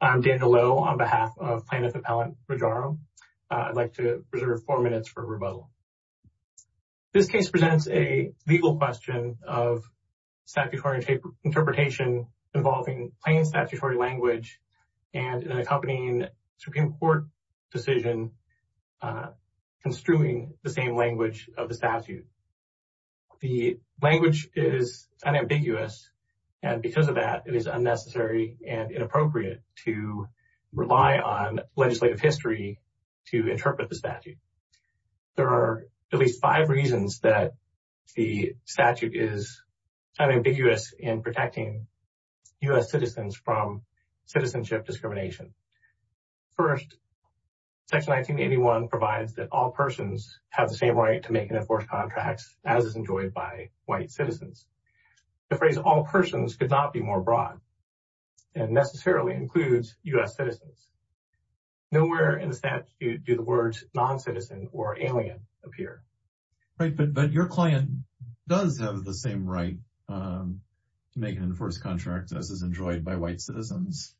I'm Daniel Lowe on behalf of plaintiff appellant Rajaram. I'd like to reserve four minutes for rebuttal. This case presents a legal question of statutory interpretation involving plain statutory language and an accompanying Supreme Court decision construing the same language of the statute. The language is unambiguous and because of that it is unnecessary and inappropriate. to rely on legislative history to interpret the statute. There are at least five reasons that the statute is unambiguous in protecting U.S. citizens from citizenship discrimination. First, section 1981 provides that all persons have the same right to make and enforce contracts as is enjoyed by white citizens. The phrase all persons could not be more broad and necessarily includes U.S. citizens. Nowhere in the statute do the words non-citizen or alien appear. Right, but your client does have the same right to make and enforce contracts as is enjoyed by white citizens,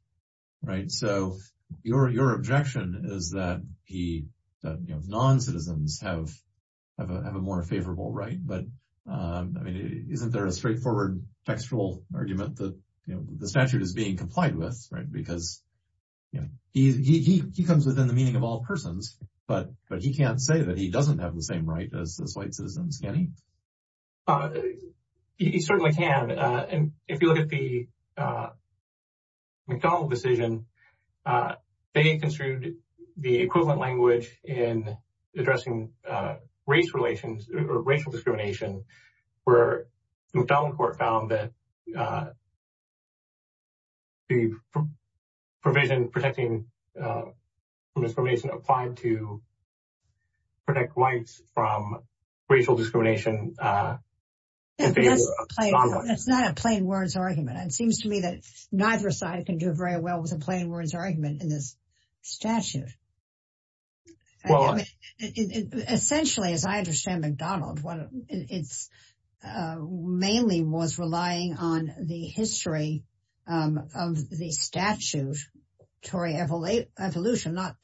right? So your objection is that he, you know, non-citizens have a more textual argument that, you know, the statute is being complied with, right? Because, you know, he comes within the meaning of all persons, but he can't say that he doesn't have the same right as those white citizens, can he? He certainly can, and if you look at the McDonald decision, they construed the equivalent language in addressing race relations or racial discrimination where McDonald court found that the provision protecting from discrimination applied to protect whites from racial discrimination in favor of non-whites. That's not a plain words argument. It seems to me that neither side can do very well with a plain words argument in this case. Mainly was relying on the history of the statute Tory evolution, not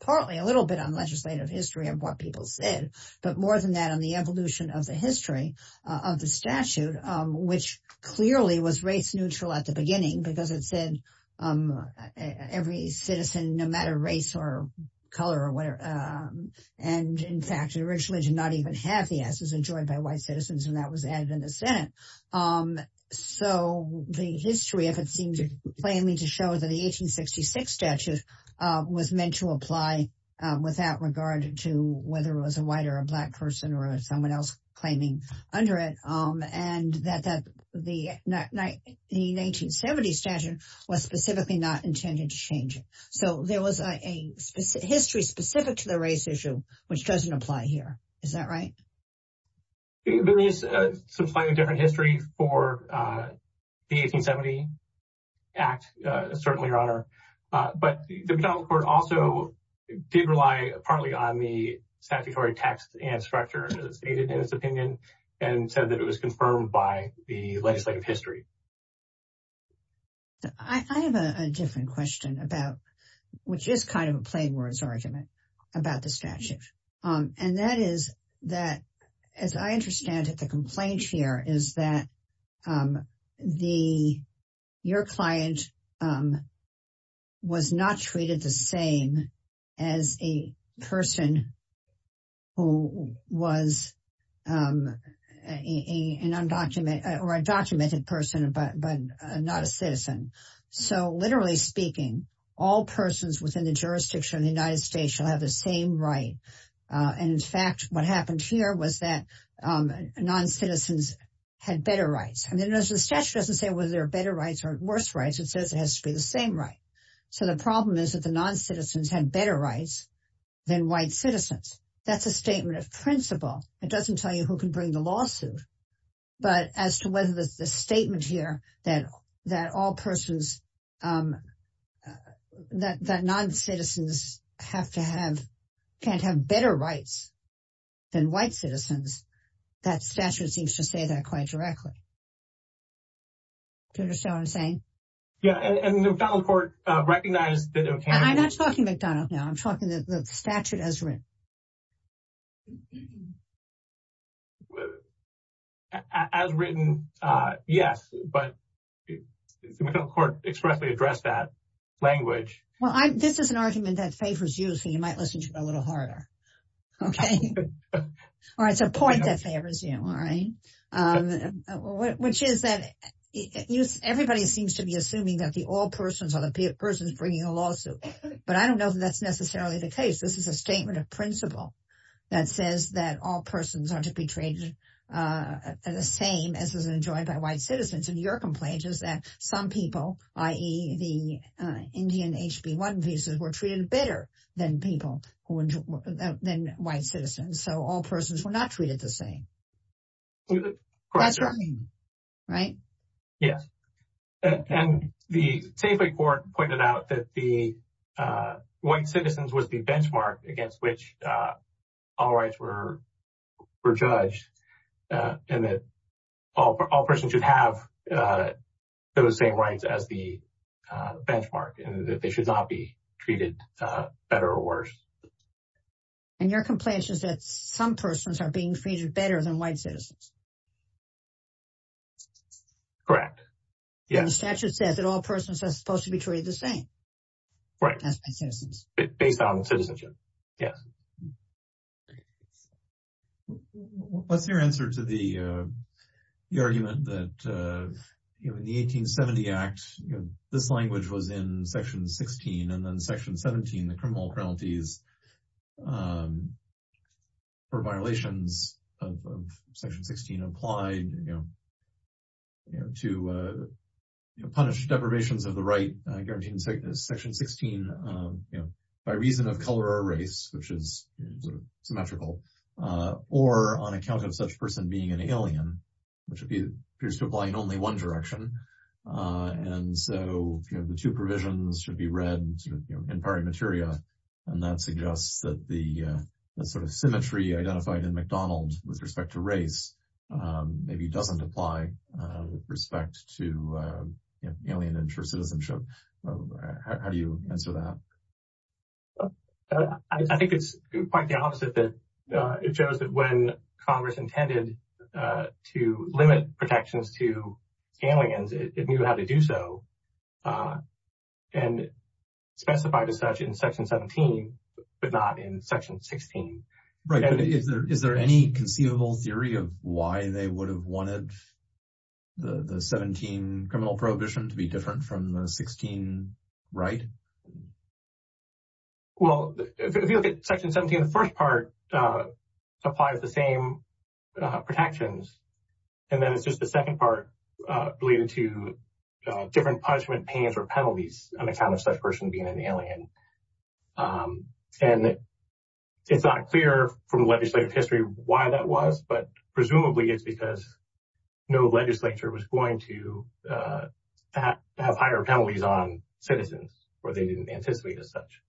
partly, a little bit on legislative history of what people said, but more than that on the evolution of the history of the statute, which clearly was race neutral at the beginning because it said every citizen, no matter race or color or whatever. And in fact, it originally did not even have the assets enjoyed by white citizens. And that was added in the Senate. So the history, if it seems to claim me to show that the 1866 statute was meant to apply without regard to whether it was a white or a black person or someone else claiming under it. And that the 1970 statute was specifically not intended to change it. So there was a history specific to the race issue, which doesn't apply here. Is that right? There is a slightly different history for the 1870 act, certainly your honor, but the McDonald court also did rely partly on the statutory text and structure as it's stated in his opinion and said that it was confirmed by the legislative history. So I have a different question about, which is kind of a plain words argument about the statute. And that is that, as I understand it, the complaint here is that the, your client was not treated the same as a person who was a, an undocumented or a documented person, but not a citizen. So literally speaking, all persons within the jurisdiction of the United States shall have the same right. And in fact, what happened here was that non-citizens had better rights. I mean, there's a statute doesn't say whether there are better rights or worse rights. It says it has to be the same, right? So the problem is that the non-citizens had better rights than white citizens. That's a statement of principle. It doesn't tell you who can bring the lawsuit, but as to whether the statement here, that, that all persons, that, that non-citizens have to have, can't have better rights than white citizens. That statute seems to say that quite directly. Do you understand what I'm saying? Yeah. And the McDonald court recognized that. I'm not talking McDonald now. I'm talking to the statute as written. As written, yes, but the McDonnell court expressly addressed that language. Well, I, this is an argument that favors you. So you might listen to it a little harder. Okay. All right. So point that favors you. All right. Which is that everybody seems to be but I don't know that that's necessarily the case. This is a statement of principle that says that all persons are to be treated the same as is enjoyed by white citizens. And your complaint is that some people, i.e. the Indian HB1 visas were treated better than people who enjoyed than white citizens. So all persons were not treated the same. That's right. Right. Yes. And the Safeway court pointed out that the white citizens was the benchmark against which all rights were judged and that all persons should have those same rights as the benchmark and that they should not be treated better or worse. And your complaint is that some persons are being treated better than white citizens. Correct. Yes. And the statute says that all persons are supposed to be treated the same. Right. As white citizens. Based on citizenship. Yes. What's your answer to the argument that, you know, in the 1870 Act, this language was in section 16 and then section 17, the criminal penalties for violations of section 16 applied, you know, to punish deprivations of the right guaranteed in section 16, you know, by reason of color or race, which is sort of symmetrical, or on account of such person being an alien, which appears to apply in only one direction. And so, you know, the two provisions should be read in pari materia. And that's, you know, suggests that the sort of symmetry identified in McDonald's with respect to race maybe doesn't apply with respect to alien intercitizenship. How do you answer that? I think it's quite the opposite that it shows that when Congress intended to limit protections to aliens, it knew how to do so. And specified as such in section 17, but not in section 16. Right. Is there any conceivable theory of why they would have wanted the 17 criminal prohibition to be different from the 16 right? Well, if you look at section 17, the first part applies the same protections. And then it's just the second part related to different punishment pains or penalties on account of such person being an alien. And it's not clear from legislative history why that was, but presumably it's because no legislature was going to have higher penalties on citizens or they didn't anticipate as such.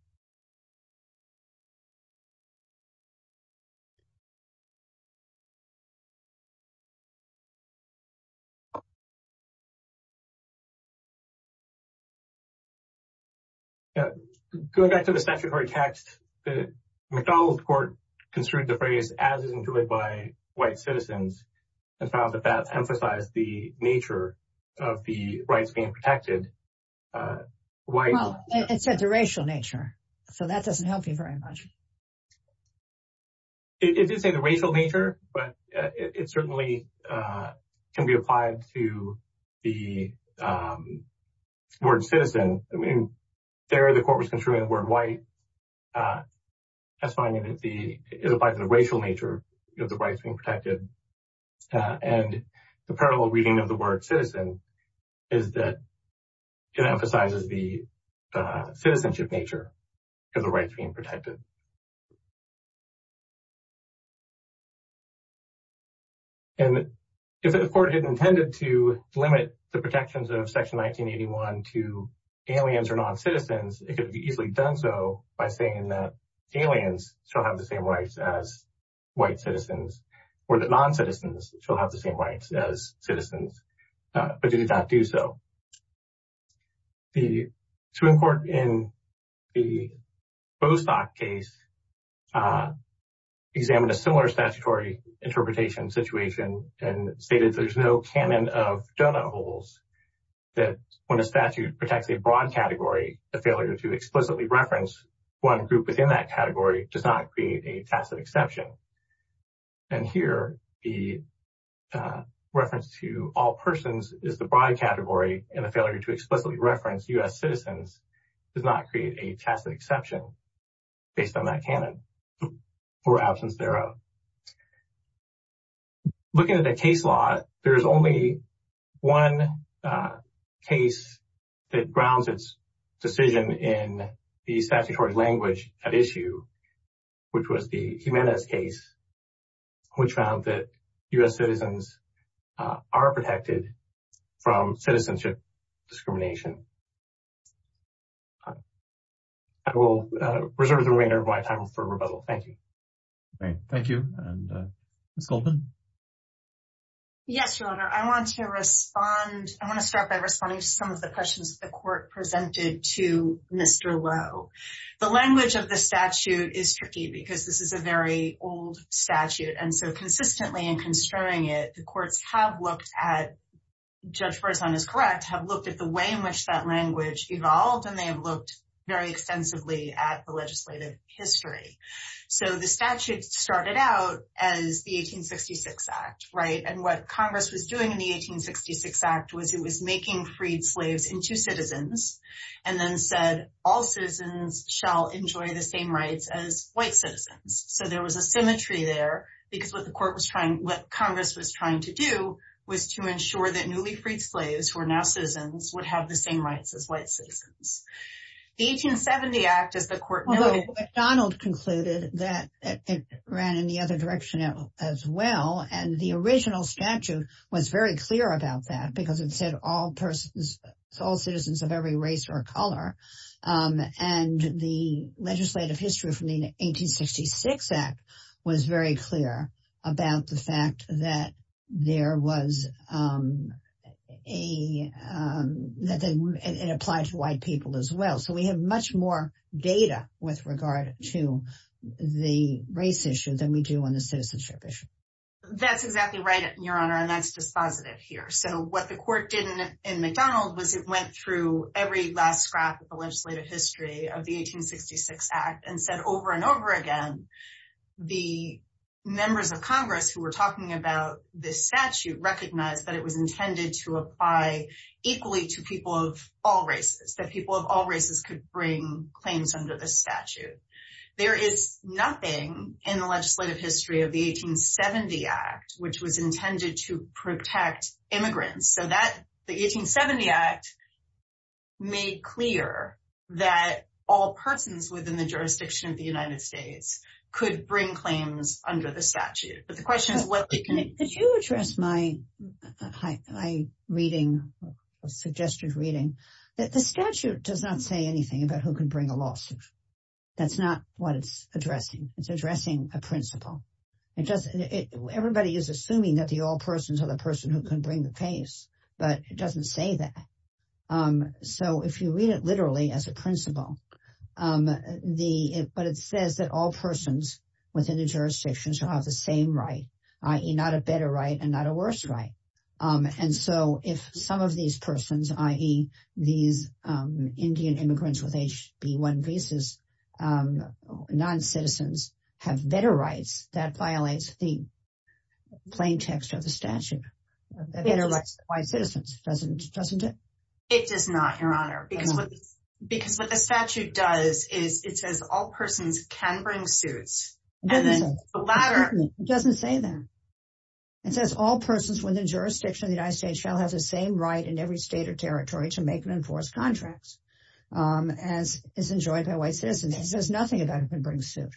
Yeah, going back to the statutory text, the McDonald's court construed the phrase as enjoyed by white citizens and found that that emphasized the nature of the rights being protected. Well, it said the racial nature, so that doesn't help you very much. It did say the racial nature, but it certainly can be applied to the word citizen. I mean, there the court was construing the word white. That's fine. It applies to the racial nature of the rights being protected. And the parallel reading of the word citizen is that it emphasizes the citizenship nature of the rights being protected. And if the court had intended to limit the protections of section 1981 to aliens or non-citizens, it could be easily done so by saying that aliens still have the same rights as non-citizens, still have the same rights as citizens, but did not do so. The Supreme Court in the Bostock case examined a similar statutory interpretation situation and stated there's no canon of donut holes, that when a statute protects a broad category, a failure to explicitly reference one group within that category does not create a tacit exception. And here, the reference to all persons is the broad category and the failure to explicitly reference U.S. citizens does not create a tacit exception based on that canon or absence thereof. Looking at the case law, there's only one case that grounds its decision in the statutory language at issue, which was the Jimenez case, which found that U.S. citizens are protected from citizenship discrimination. I will reserve the remainder of my time for rebuttal. Thank you. Great. Thank you. And Ms. Goldman? Yes, Your Honor. I want to respond, I want to start by responding to some of the questions the court presented to Mr. Lowe. The language of the statute is tricky because this is a very old statute, and so consistently in construing it, the courts have looked at, Judge Berzon is correct, have looked at the way in which that language evolved, and they have looked very extensively at the legislative history. So the statute started out as the 1866 Act, right? And what Congress was doing in the 1866 Act was it was making freed slaves into citizens, and then said all citizens shall enjoy the same rights as white citizens. So there was a symmetry there, because what the court was trying, what Congress was trying to do was to ensure that newly freed slaves, who are now citizens, would have the same rights as white citizens. The 1870 Act, as the court noted, Donald concluded that it ran in the other direction as well, and the original statute was very clear about that, because it said all persons, all citizens of every race or color, and the legislative history from the 1866 Act was very clear about the fact that there was a, that it applied to white people as well. So we have much more data with regard to the race issue than we do on the citizenship issue. That's exactly right, Your Honor, and that's dispositive here. So what the court did in McDonald was it went through every last scrap of the legislative history of the 1866 Act, and said over and over again, the members of Congress who were talking about this statute recognized that it was intended to apply equally to people of all races, that people of all races could bring claims under the statute. There is nothing in the legislative history of the 1870 Act, which was intended to protect immigrants. So that, the 1870 Act made clear that all persons within the jurisdiction of the United States could bring claims under the statute. But the question is what they can. Could you address my, my reading, suggested reading, that the statute does not say anything about who can bring a lawsuit. That's not what it's addressing. It's addressing a principle. It just, everybody is assuming that the all persons are the person who can bring the case, but it doesn't say that. So if you read it literally as a principle, the, but it says that all persons within the jurisdictions who have the same right, i.e. not a better right and not a worse right. And so if some of these persons, i.e. these Indian immigrants with HB1 visas, non-citizens, have better rights, that violates the plain text of the statute. Better rights for white citizens. Doesn't it? It does not, Your Honor. Because what, because what the statute does is it says all persons can bring suits. It doesn't say that. It says all persons within the jurisdiction of the United States shall have the same right in every state or territory to make and enforce contracts, as is enjoyed by white citizens. It says nothing about who can bring suit.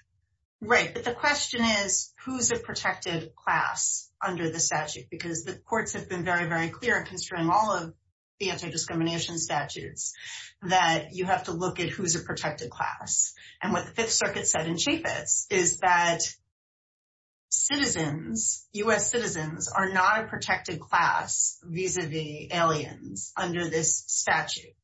Right. But the question is, who's a protected class under the statute? Because the courts have been very, very clear, considering all of the anti-discrimination statutes, that you have to look at who's a protected class. And what the aliens under this statute.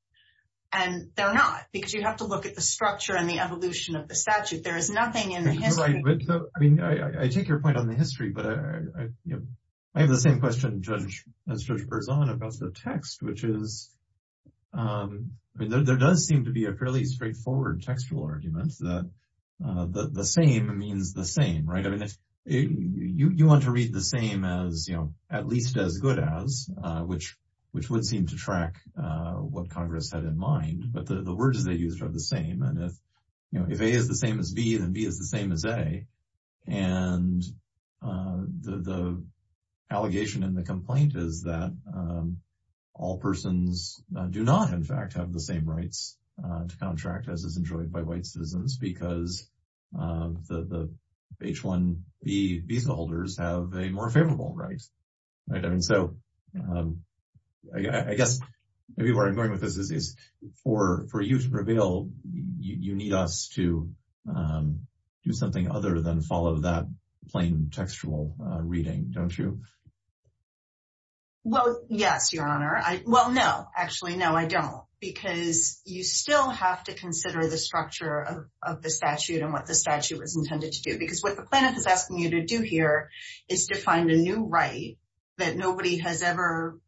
And they're not. Because you have to look at the structure and the evolution of the statute. There is nothing in the history. Right. But I mean, I take your point on the history. But I have the same question, Judge, as Judge Berzon about the text, which is, I mean, there does seem to be a fairly straightforward textual argument that the same means the same, right? I mean, if you want to read the same as, you know, at least as which, which would seem to track what Congress had in mind, but the words they use are the same. And if, you know, if A is the same as B, then B is the same as A. And the allegation in the complaint is that all persons do not, in fact, have the same rights to contract, as is enjoyed by white citizens, because the H-1B visa holders have a more favorable right. And so I guess maybe where I'm going with this is for you to prevail, you need us to do something other than follow that plain textual reading, don't you? Well, yes, Your Honor. Well, no, actually, no, I don't. Because you still have to consider the structure of the statute and what the statute was intended to do. Because what the plaintiff is asking you to do here is to find a new right that nobody has ever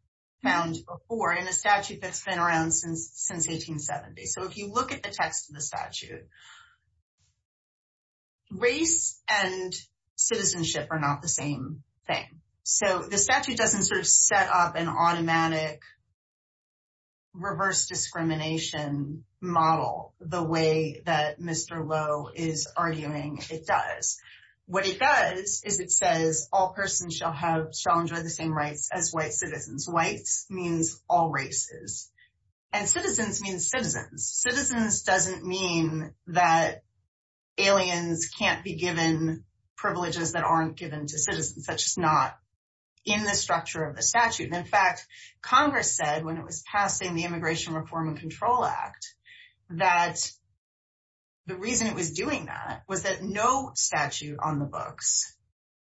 found before in a statute that's been around since 1870. So if you look at the text of the statute, race and citizenship are not the same thing. So the statute doesn't sort of set up an anti-discrimination model the way that Mr. Lowe is arguing it does. What it does is it says all persons shall enjoy the same rights as white citizens. Whites means all races. And citizens means citizens. Citizens doesn't mean that aliens can't be given privileges that aren't given to citizens. That's just not in the structure of the statute. And in fact, Congress said when it was passing the Immigration Reform and Control Act that the reason it was doing that was that no statute on the books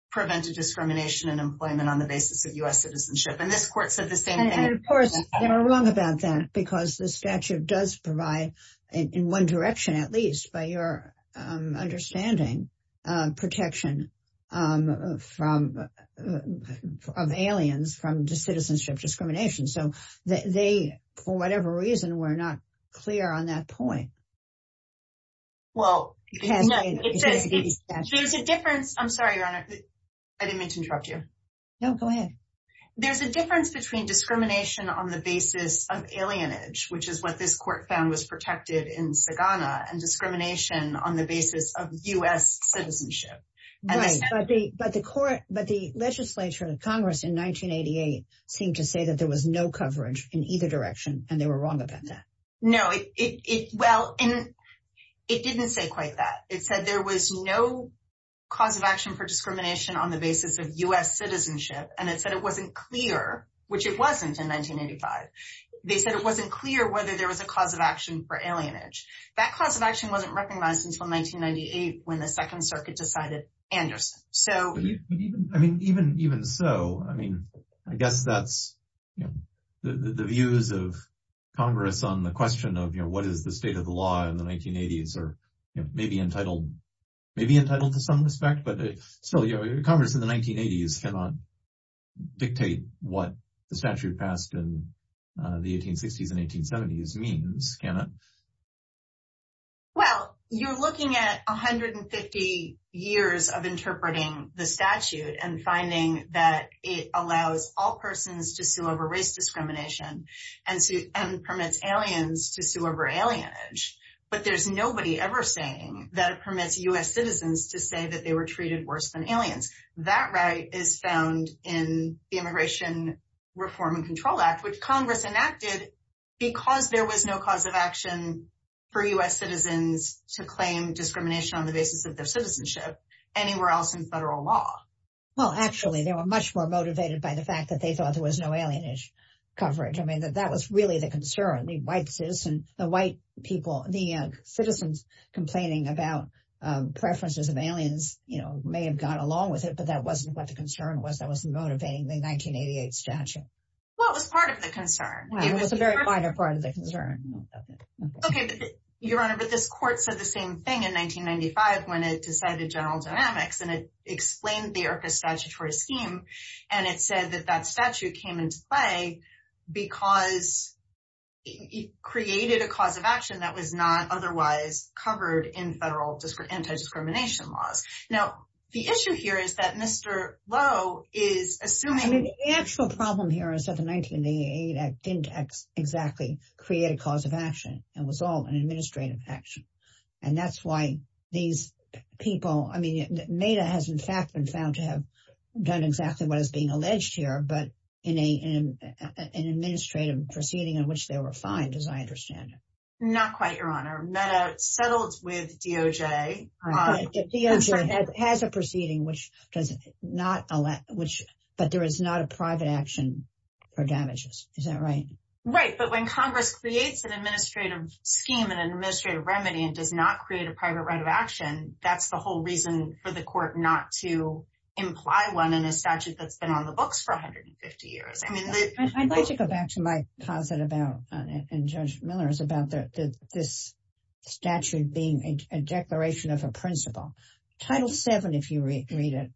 prevented discrimination in employment on the basis of U.S. citizenship. And this court said the same thing. And of course, they were wrong about that because the statute does provide in one direction, at least by your understanding, protection from of aliens from citizenship discrimination. So they, for whatever reason, were not clear on that point. Well, there's a difference. I'm sorry, Your Honor. I didn't mean to interrupt you. No, go ahead. There's a difference between discrimination on the basis of alienage, which is what this court found was protected in Sagana, and discrimination on the basis of U.S. legislature and Congress in 1988 seemed to say that there was no coverage in either direction, and they were wrong about that. No, well, it didn't say quite that. It said there was no cause of action for discrimination on the basis of U.S. citizenship, and it said it wasn't clear, which it wasn't in 1985. They said it wasn't clear whether there was a cause of action for alienage. That cause of action wasn't recognized until 1998 when the Second Circuit decided Anderson. So, I mean, even so, I mean, I guess that's, you know, the views of Congress on the question of, you know, what is the state of the law in the 1980s or, you know, maybe entitled, maybe entitled to some respect, but still, you know, Congress in the 1980s cannot dictate what the statute passed in the 1860s and 1870s means, can it? Well, you're looking at 150 years of interpreting the statute and finding that it allows all persons to sue over race discrimination and permits aliens to sue over alienage, but there's nobody ever saying that it permits U.S. citizens to say that they were treated worse than aliens. That right is found in the Immigration Reform and Control Act, which Congress enacted because there was no cause of action for U.S. citizens to claim discrimination on the basis of their citizenship anywhere else in federal law. Well, actually, they were much more motivated by the fact that they thought there was no alienage coverage. I mean, that was really the concern, the white citizen, the white people, the citizens complaining about preferences of aliens, you know, may have gone along with it, but that wasn't what the concern was that was motivating the 1988 statute. Well, it was part of the concern. It was a very minor part of the concern. Okay, Your Honor, but this court said the same thing in 1995, when it decided general dynamics, and it explained the IRCA statutory scheme. And it said that that statute came into play, because it created a cause of action that was not otherwise covered in federal anti-discrimination laws. Now, the issue here is that Mr. Lowe is assuming... I mean, the actual problem here is that the 1988 Act didn't exactly create a cause of action. It was all an administrative action. And that's why these people, I mean, MEDA has, in fact, been found to have done exactly what is being alleged here, but in an administrative proceeding in which they were fined, as I understand it. Not quite, Your Honor. MEDA settled with DOJ DOJ has a proceeding, but there is not a private action for damages. Is that right? Right. But when Congress creates an administrative scheme and an administrative remedy, and does not create a private right of action, that's the whole reason for the court not to imply one in a statute that's been on the books for 150 years. I'd like to go back to my principle. Title VII, if you read it,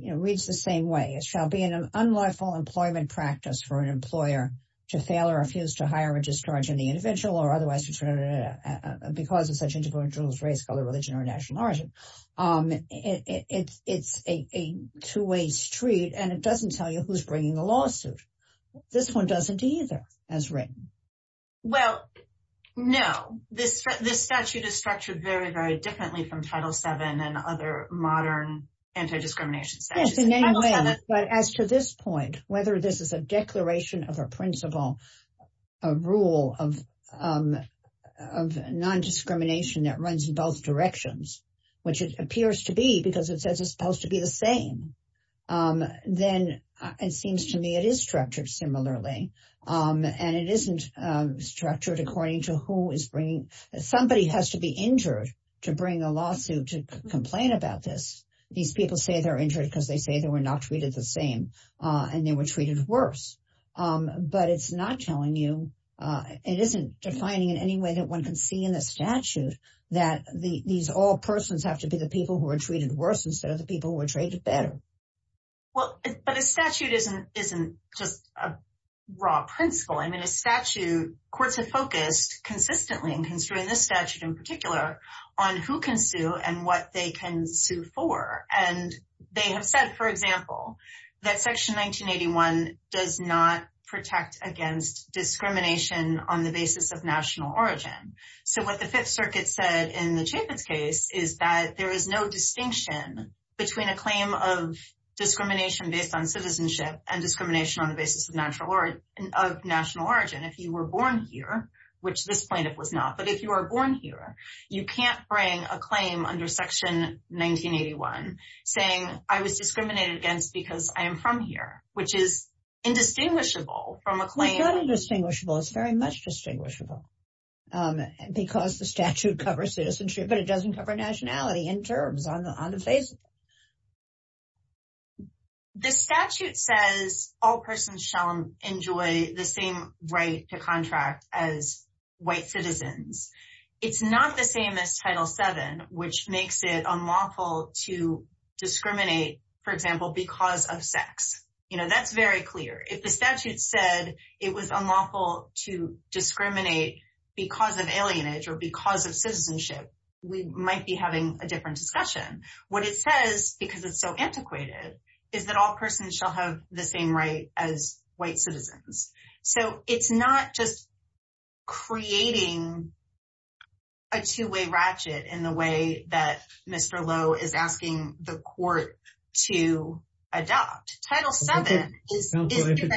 reads the same way. It shall be an unlawful employment practice for an employer to fail or refuse to hire or discharge any individual or otherwise because of such individual's race, color, religion, or national origin. It's a two-way street, and it doesn't tell you who's bringing the lawsuit. This one doesn't either, as written. Well, no. This statute is structured very, very differently from Title VII and other modern anti-discrimination statutes. Yes, in any way. But as to this point, whether this is a declaration of a principle, a rule of non-discrimination that runs in both directions, which it appears to be because it says it's supposed to be the same, then it seems to me it is structured similarly. And it isn't structured according to who is bringing. Somebody has to be injured to bring a lawsuit to complain about this. These people say they're injured because they say they were not treated the same, and they were treated worse. But it's not telling you. It isn't defining in any way that one can see in the statute that these all persons have to be the people who are treated worse instead of the people who are treated better. Well, but a statute isn't just a raw principle. I mean, a statute, courts have focused consistently in considering this statute in particular on who can sue and what they can sue for. And they have said, for example, that Section 1981 does not protect against discrimination on the basis of national origin. So what the Fifth Circuit said in the Chaffetz case is that there is no distinction between a claim of discrimination based on citizenship and discrimination on the basis of national origin. If you were born here, which this plaintiff was not, but if you are born here, you can't bring a claim under Section 1981 saying I was discriminated against because I am from here, which is indistinguishable from a claim. It's not indistinguishable. It's very much distinguishable because the statute covers citizenship, but it doesn't cover nationality in terms of indistinguishable. The statute says all persons shall enjoy the same right to contract as white citizens. It's not the same as Title VII, which makes it unlawful to discriminate, for example, because of sex. You know, that's very clear. If the statute said it was unlawful to discriminate because of alienage or because of citizenship, we might be having a different discussion. What it says, because it's so antiquated, is that all persons shall have the same right as white citizens. So it's not just creating a two-way ratchet in the way that Mr. Lowe is asking the court to adopt. Title VII is different.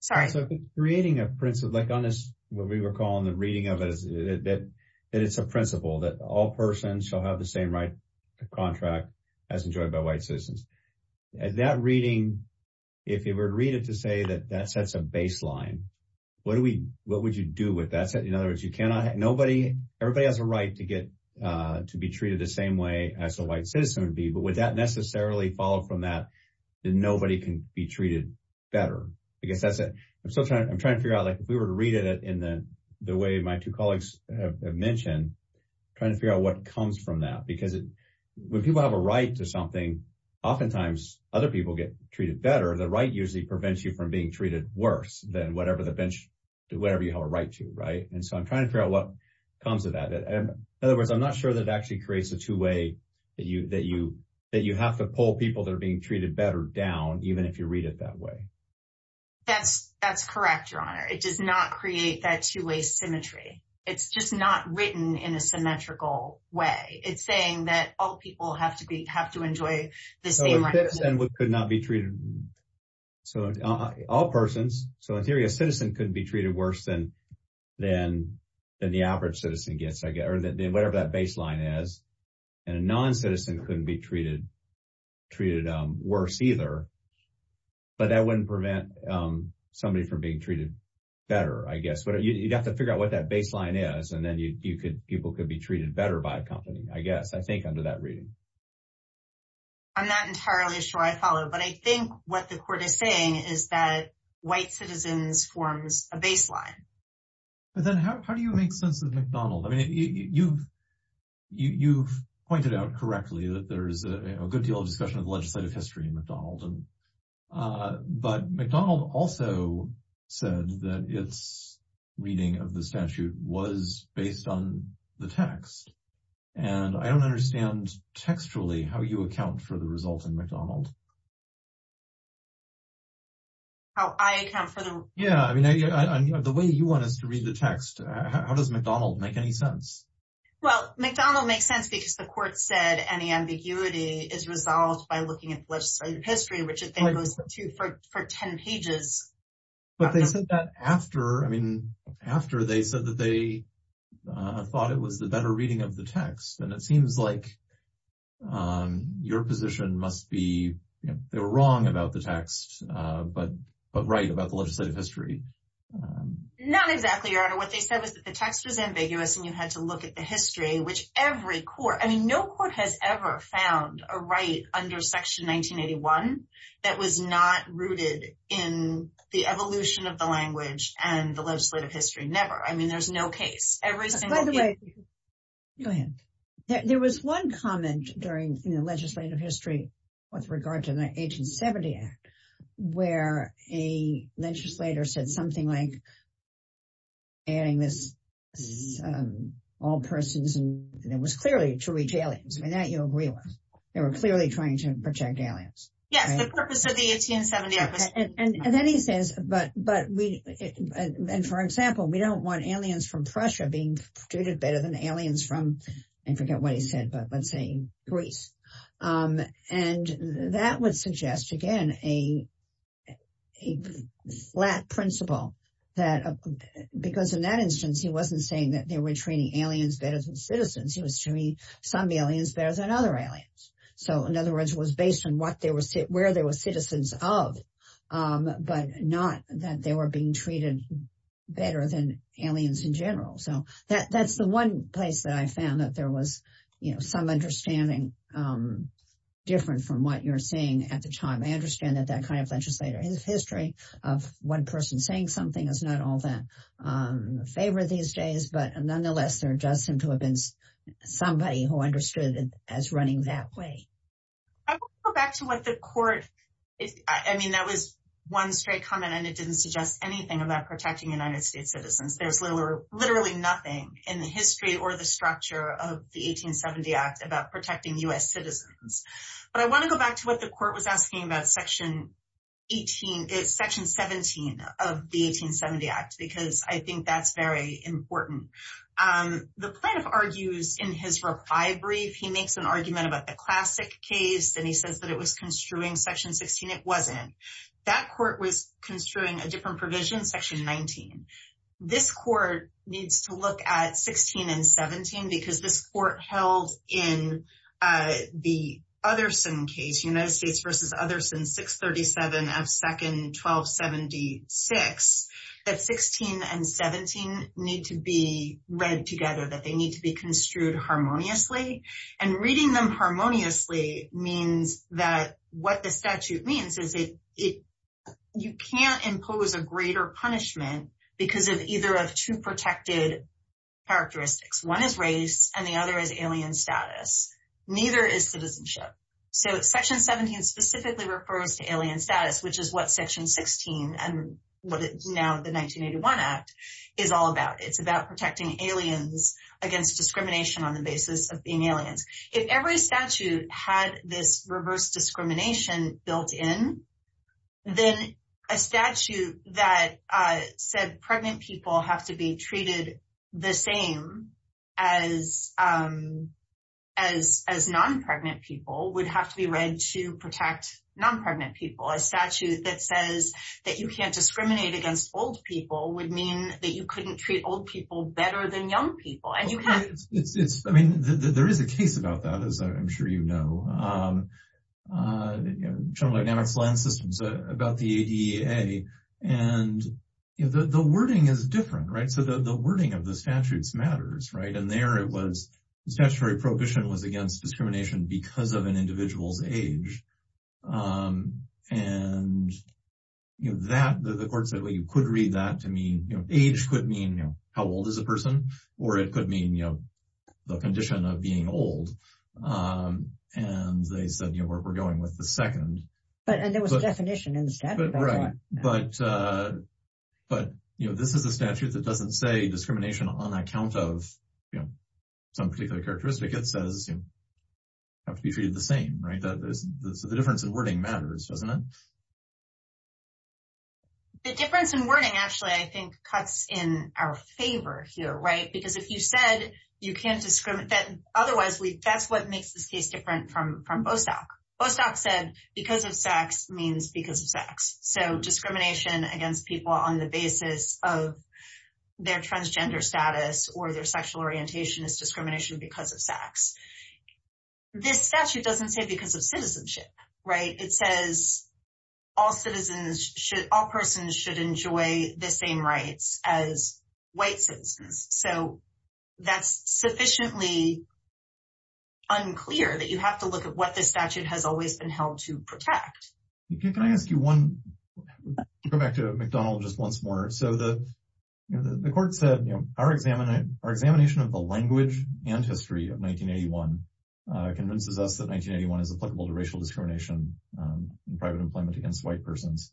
Sorry. So creating a principle, like on this, what we were calling the reading of it, that it's a principle that all persons shall have the same right to contract as enjoyed by white citizens. That reading, if you were to read it to say that that sets a baseline, what would you do with that? In other words, everybody has a right to be treated the same way as a white citizen would be, but would that necessarily follow from that that nobody can be treated better? I guess that's it. I'm still trying to figure out, if we were to read it in the way my two colleagues have mentioned, trying to figure out what comes from that. Because when people have a right to something, oftentimes other people get treated better. The right usually prevents you from being treated worse than whatever you have a right to. So I'm trying to figure out what comes of that. In other words, I'm not sure that actually creates a two-way that you have to pull people that are being treated better down, even if you read it that way. That's correct, Your Honor. It does not create that two-way symmetry. It's just not written in a symmetrical way. It's saying that all So in theory, a citizen couldn't be treated worse than the average citizen gets, I guess, or whatever that baseline is. And a non-citizen couldn't be treated worse either. But that wouldn't prevent somebody from being treated better, I guess. You'd have to figure out what that baseline is, and then people could be treated better by a company, I guess, I think, under that reading. I'm not entirely sure I follow. But I think what the Court is saying is that white citizens forms a baseline. But then how do you make sense of McDonald? I mean, you've pointed out correctly that there is a good deal of discussion of legislative history in McDonald. But McDonald also said that its reading of the statute was based on the text. And I don't understand textually how you account for the results in McDonald. How I account for the... Yeah, I mean, the way you want us to read the text, how does McDonald make any sense? Well, McDonald makes sense because the Court said any ambiguity is resolved by looking at legislative history, which it then goes to for 10 pages. But they said that after, I mean, after they said that they thought it was the better reading of the they were wrong about the text, but right about the legislative history. Not exactly, Your Honor. What they said was that the text was ambiguous, and you had to look at the history, which every Court, I mean, no Court has ever found a right under Section 1981 that was not rooted in the evolution of the language and the legislative history. Never. I mean, there's no case. Every single case... By the way, go ahead. There was one comment during the legislative history with regard to the 1870 Act, where a legislator said something like adding this, all persons, and it was clearly to reach aliens. I mean, that you'll agree with. They were clearly trying to protect aliens. Yes, the purpose of the 1870 Act was... And then he says, but we, and for example, we don't want aliens from Prussia being treated better than aliens from, I forget what he said, but let's say, Greece. And that would suggest, again, a flat principle that, because in that instance, he wasn't saying that they were treating aliens better than citizens. He was showing some aliens better than other aliens. So in other words, it was based on what they were, where they were citizens of, but not that they were being treated better than aliens in general. So that's the one place that I found that there was some understanding different from what you're seeing at the time. I understand that that kind of legislator, his history of one person saying something is not all that favored these days, but nonetheless, there does seem to have been somebody who understood it as running that way. I will go back to what the court... I mean, that was one straight comment, and it didn't suggest anything about protecting United States citizens. There's literally nothing in the history or the structure of the 1870 Act about protecting US citizens. But I want to go back to what the court was asking about section 17 of the 1870 Act, because I think that's very important. The plaintiff argues in his reply brief, he makes an argument about the classic case, and he says that it was construing section 16. It wasn't. That court was construing a different provision, section 19. This court needs to look at 16 and 17, because this court held in the Utherson case, United States v. Utherson, 637 of second 1276, that 16 and 17 need to be read that what the statute means is you can't impose a greater punishment because of either of two protected characteristics. One is race, and the other is alien status. Neither is citizenship. So section 17 specifically refers to alien status, which is what section 16 and what now the 1981 Act is all about. It's about protecting aliens against discrimination on the basis of being aliens. If every statute had this reverse discrimination built in, then a statute that said pregnant people have to be treated the same as non-pregnant people would have to be read to protect non-pregnant people. A statute that says that you can't discriminate against old people would mean that you couldn't treat old people better than young people. There is a case about that, as I'm sure you know. General Dynamics Land Systems, about the ADEA, and the wording is different, right? So the wording of the statutes matters, right? And there it was, the statutory prohibition was against discrimination because of an individual's age. And, you know, that, the court said, well, you could read that to mean, you know, age could mean, you know, how old is a person, or it could mean, you know, the condition of being old. And they said, you know, we're going with the second. But, and there was a definition in the statute about that. Right. But, you know, this is a statute that doesn't say discrimination on account of, you know, some particular characteristic. It says, you have to be treated the same, right? So the difference in wording matters, doesn't it? The difference in wording actually, I think, cuts in our favor here, right? Because if you said you can't discriminate, otherwise, that's what makes this case different from Bostock. Bostock said, because of sex means because of sex. So discrimination against people on the basis of their transgender status or their sexual orientation is discrimination because of sex. This statute doesn't say because of citizenship, right? It says, all citizens should, all persons should enjoy the same rights as white citizens. So that's sufficiently unclear that you have to look at what this statute has always been held to protect. Can I ask you one, go back to McDonald just once more. So the, you know, the court said, our examination of the language and history of 1981 convinces us that 1981 is applicable to racial discrimination in private employment against white persons.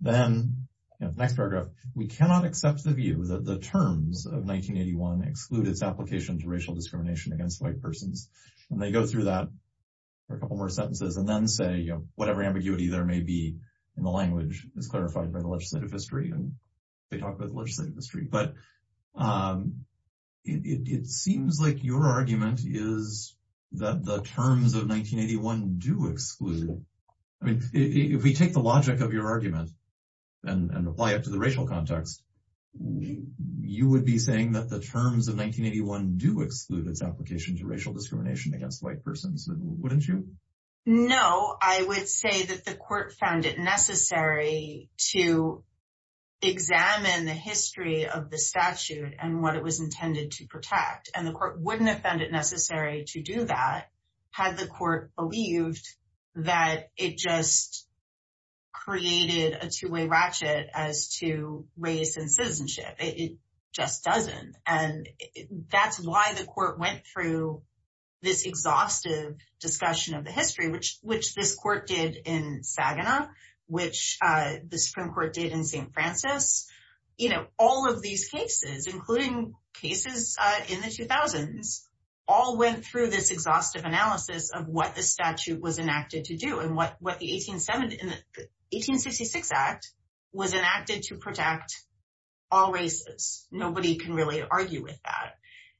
Then the next paragraph, we cannot accept the view that the terms of 1981 exclude its application to racial discrimination against white persons. And they go through that for a couple more sentences and then say, you know, whatever ambiguity there may be in the language is clarified by the legislative history. And they talk about the legislative history, but it seems like your argument is that the terms of 1981 do exclude it. I mean, if we take the logic of your argument and apply it to the racial context, you would be saying that the terms of 1981 do exclude its application to racial discrimination against white persons, wouldn't you? No, I would say that the court found it necessary to examine the history of the statute and what it was intended to protect. And the court wouldn't have found it necessary to do that had the court believed that it just created a two-way ratchet as to race and citizenship. It just doesn't. And that's why the court went through this exhaustive discussion of the history, which this court did in Saginaw, which the Supreme Court did in St. Francis. You know, all of these cases, including cases in the 2000s, all went through this exhaustive analysis of what the statute was enacted to do and what the 1866 Act was enacted to protect all races. Nobody can really argue with that.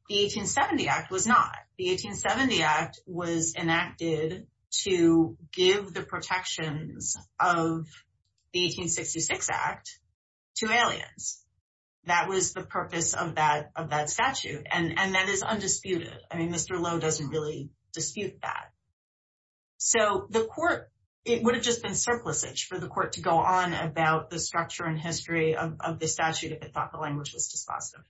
The 1870 Act was not. The 1870 Act was enacted to give the protections of the 1866 Act to aliens. That was the purpose of that statute. And that is undisputed. I mean, Mr. Lowe doesn't really dispute that. So the court, it would have just been surplusage for the court to go on about the structure and history of the statute if it thought the language was dispositive.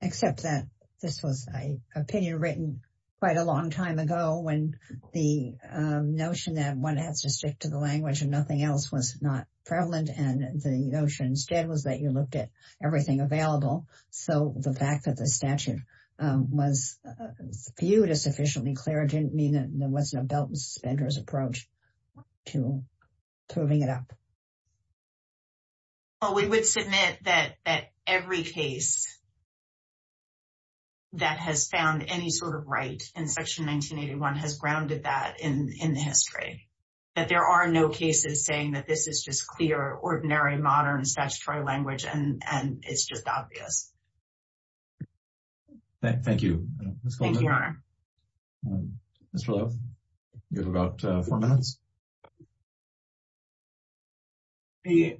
Except that this was an opinion written quite a long time ago when the notion that one has to stick to the language and nothing else was not prevalent. And the notion instead was that you looked at everything available. So the fact that the statute was viewed as sufficiently clear didn't mean that there wasn't a belt and suspenders approach to proving it up. Well, we would submit that every case that has found any sort of right in Section 1981 has grounded that in the history. That there are no cases saying that this is just clear, ordinary, modern statutory language, and it's just obvious. Thank you, Ms. Goldman. Thank you, Your Honor. Mr. Lowe, you have about four minutes. The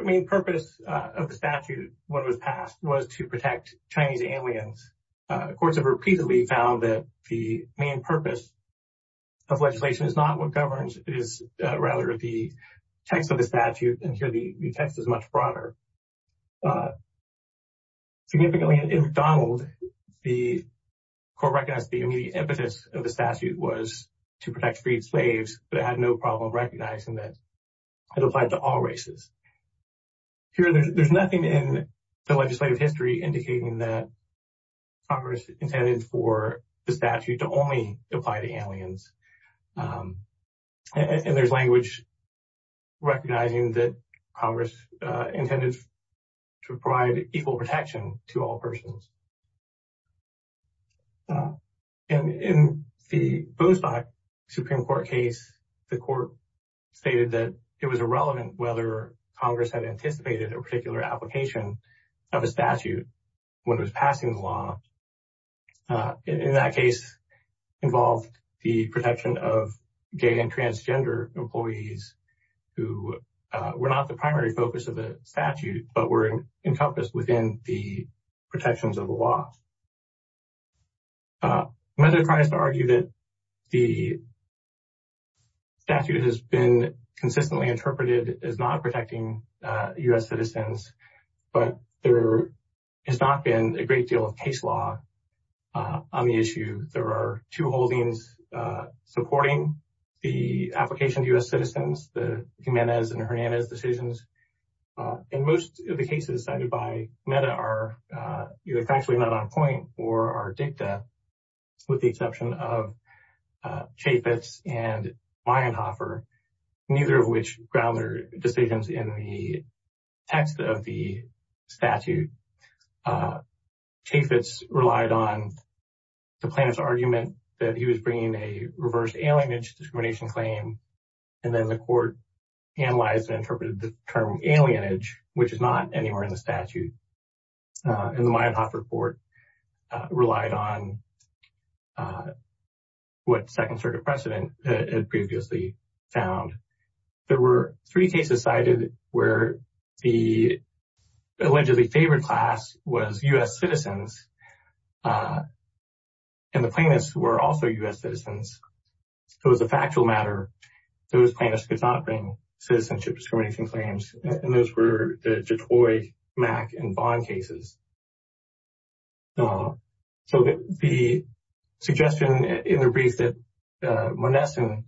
main purpose of the statute when it was passed was to protect Chinese aliens. Courts have repeatedly found that the main purpose of legislation is not what governs, it is rather the text of the statute, and here the text is much broader. Significantly, in McDonald, the court recognized the immediate impetus of the statute was to protect freed slaves, but it had no problem recognizing that it applied to all races. Here, there's nothing in the legislative history indicating that Congress intended for the statute to only apply to aliens, and there's language recognizing that Congress intended to provide equal protection to all persons. In the Boothstock Supreme Court case, the court stated that it was irrelevant whether Congress had anticipated a particular application of a statute when it was passing the law. In that case, it involved the protection of gay and transgender employees who were not the primary focus of the statute, but were encompassed within the protections of the law. I'm not trying to argue that the statute has been consistently interpreted as not protecting U.S. citizens, but there has not been a great deal of case law on the issue. There are two holdings supporting the application to U.S. citizens, the Jiménez and Hernández decisions, and most of the cases cited by NEDA are either factually not on point or are dicta, with the exception of Chaffetz and Mayenhofer, neither of which ground their decisions in the text of the statute. Chaffetz relied on the plaintiff's argument that he was bringing a alienage, which is not anywhere in the statute, and the Mayenhofer report relied on what Second Circuit precedent had previously found. There were three cases cited where the allegedly favored class was U.S. citizens, and the plaintiffs were also U.S. citizens. So, as a factual matter, those plaintiffs could not bring citizenship discrimination claims, and those were the Jatoy, Mack, and Vaughn cases. So, the suggestion in the brief that Monesen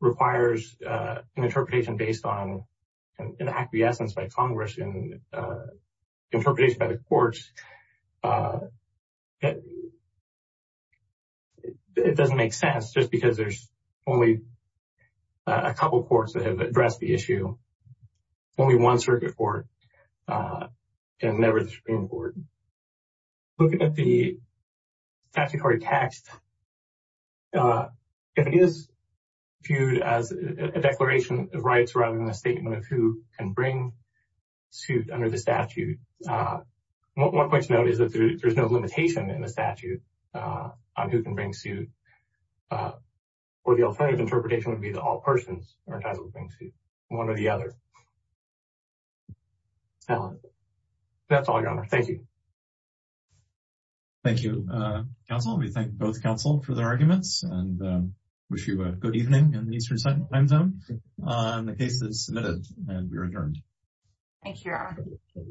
requires an interpretation based on an acquiescence by Congress and interpretation by the courts, it doesn't make sense just because there's only a couple courts that have addressed the issue, only one circuit court, and never the Supreme Court. Looking at the statutory text, if it is viewed as a declaration of rights rather than a statement of who can bring suit under the statute, one point to note is that there's no limitation in the statute on who can bring suit, or the alternative interpretation would be that all persons are entitled to bring suit, one or the other. That's all, Your Honor. Thank you. Thank you, counsel. We thank both counsel for their arguments and wish you a good evening in the Eastern Time Zone on the cases submitted, and we are adjourned. Thank you, Your Honor.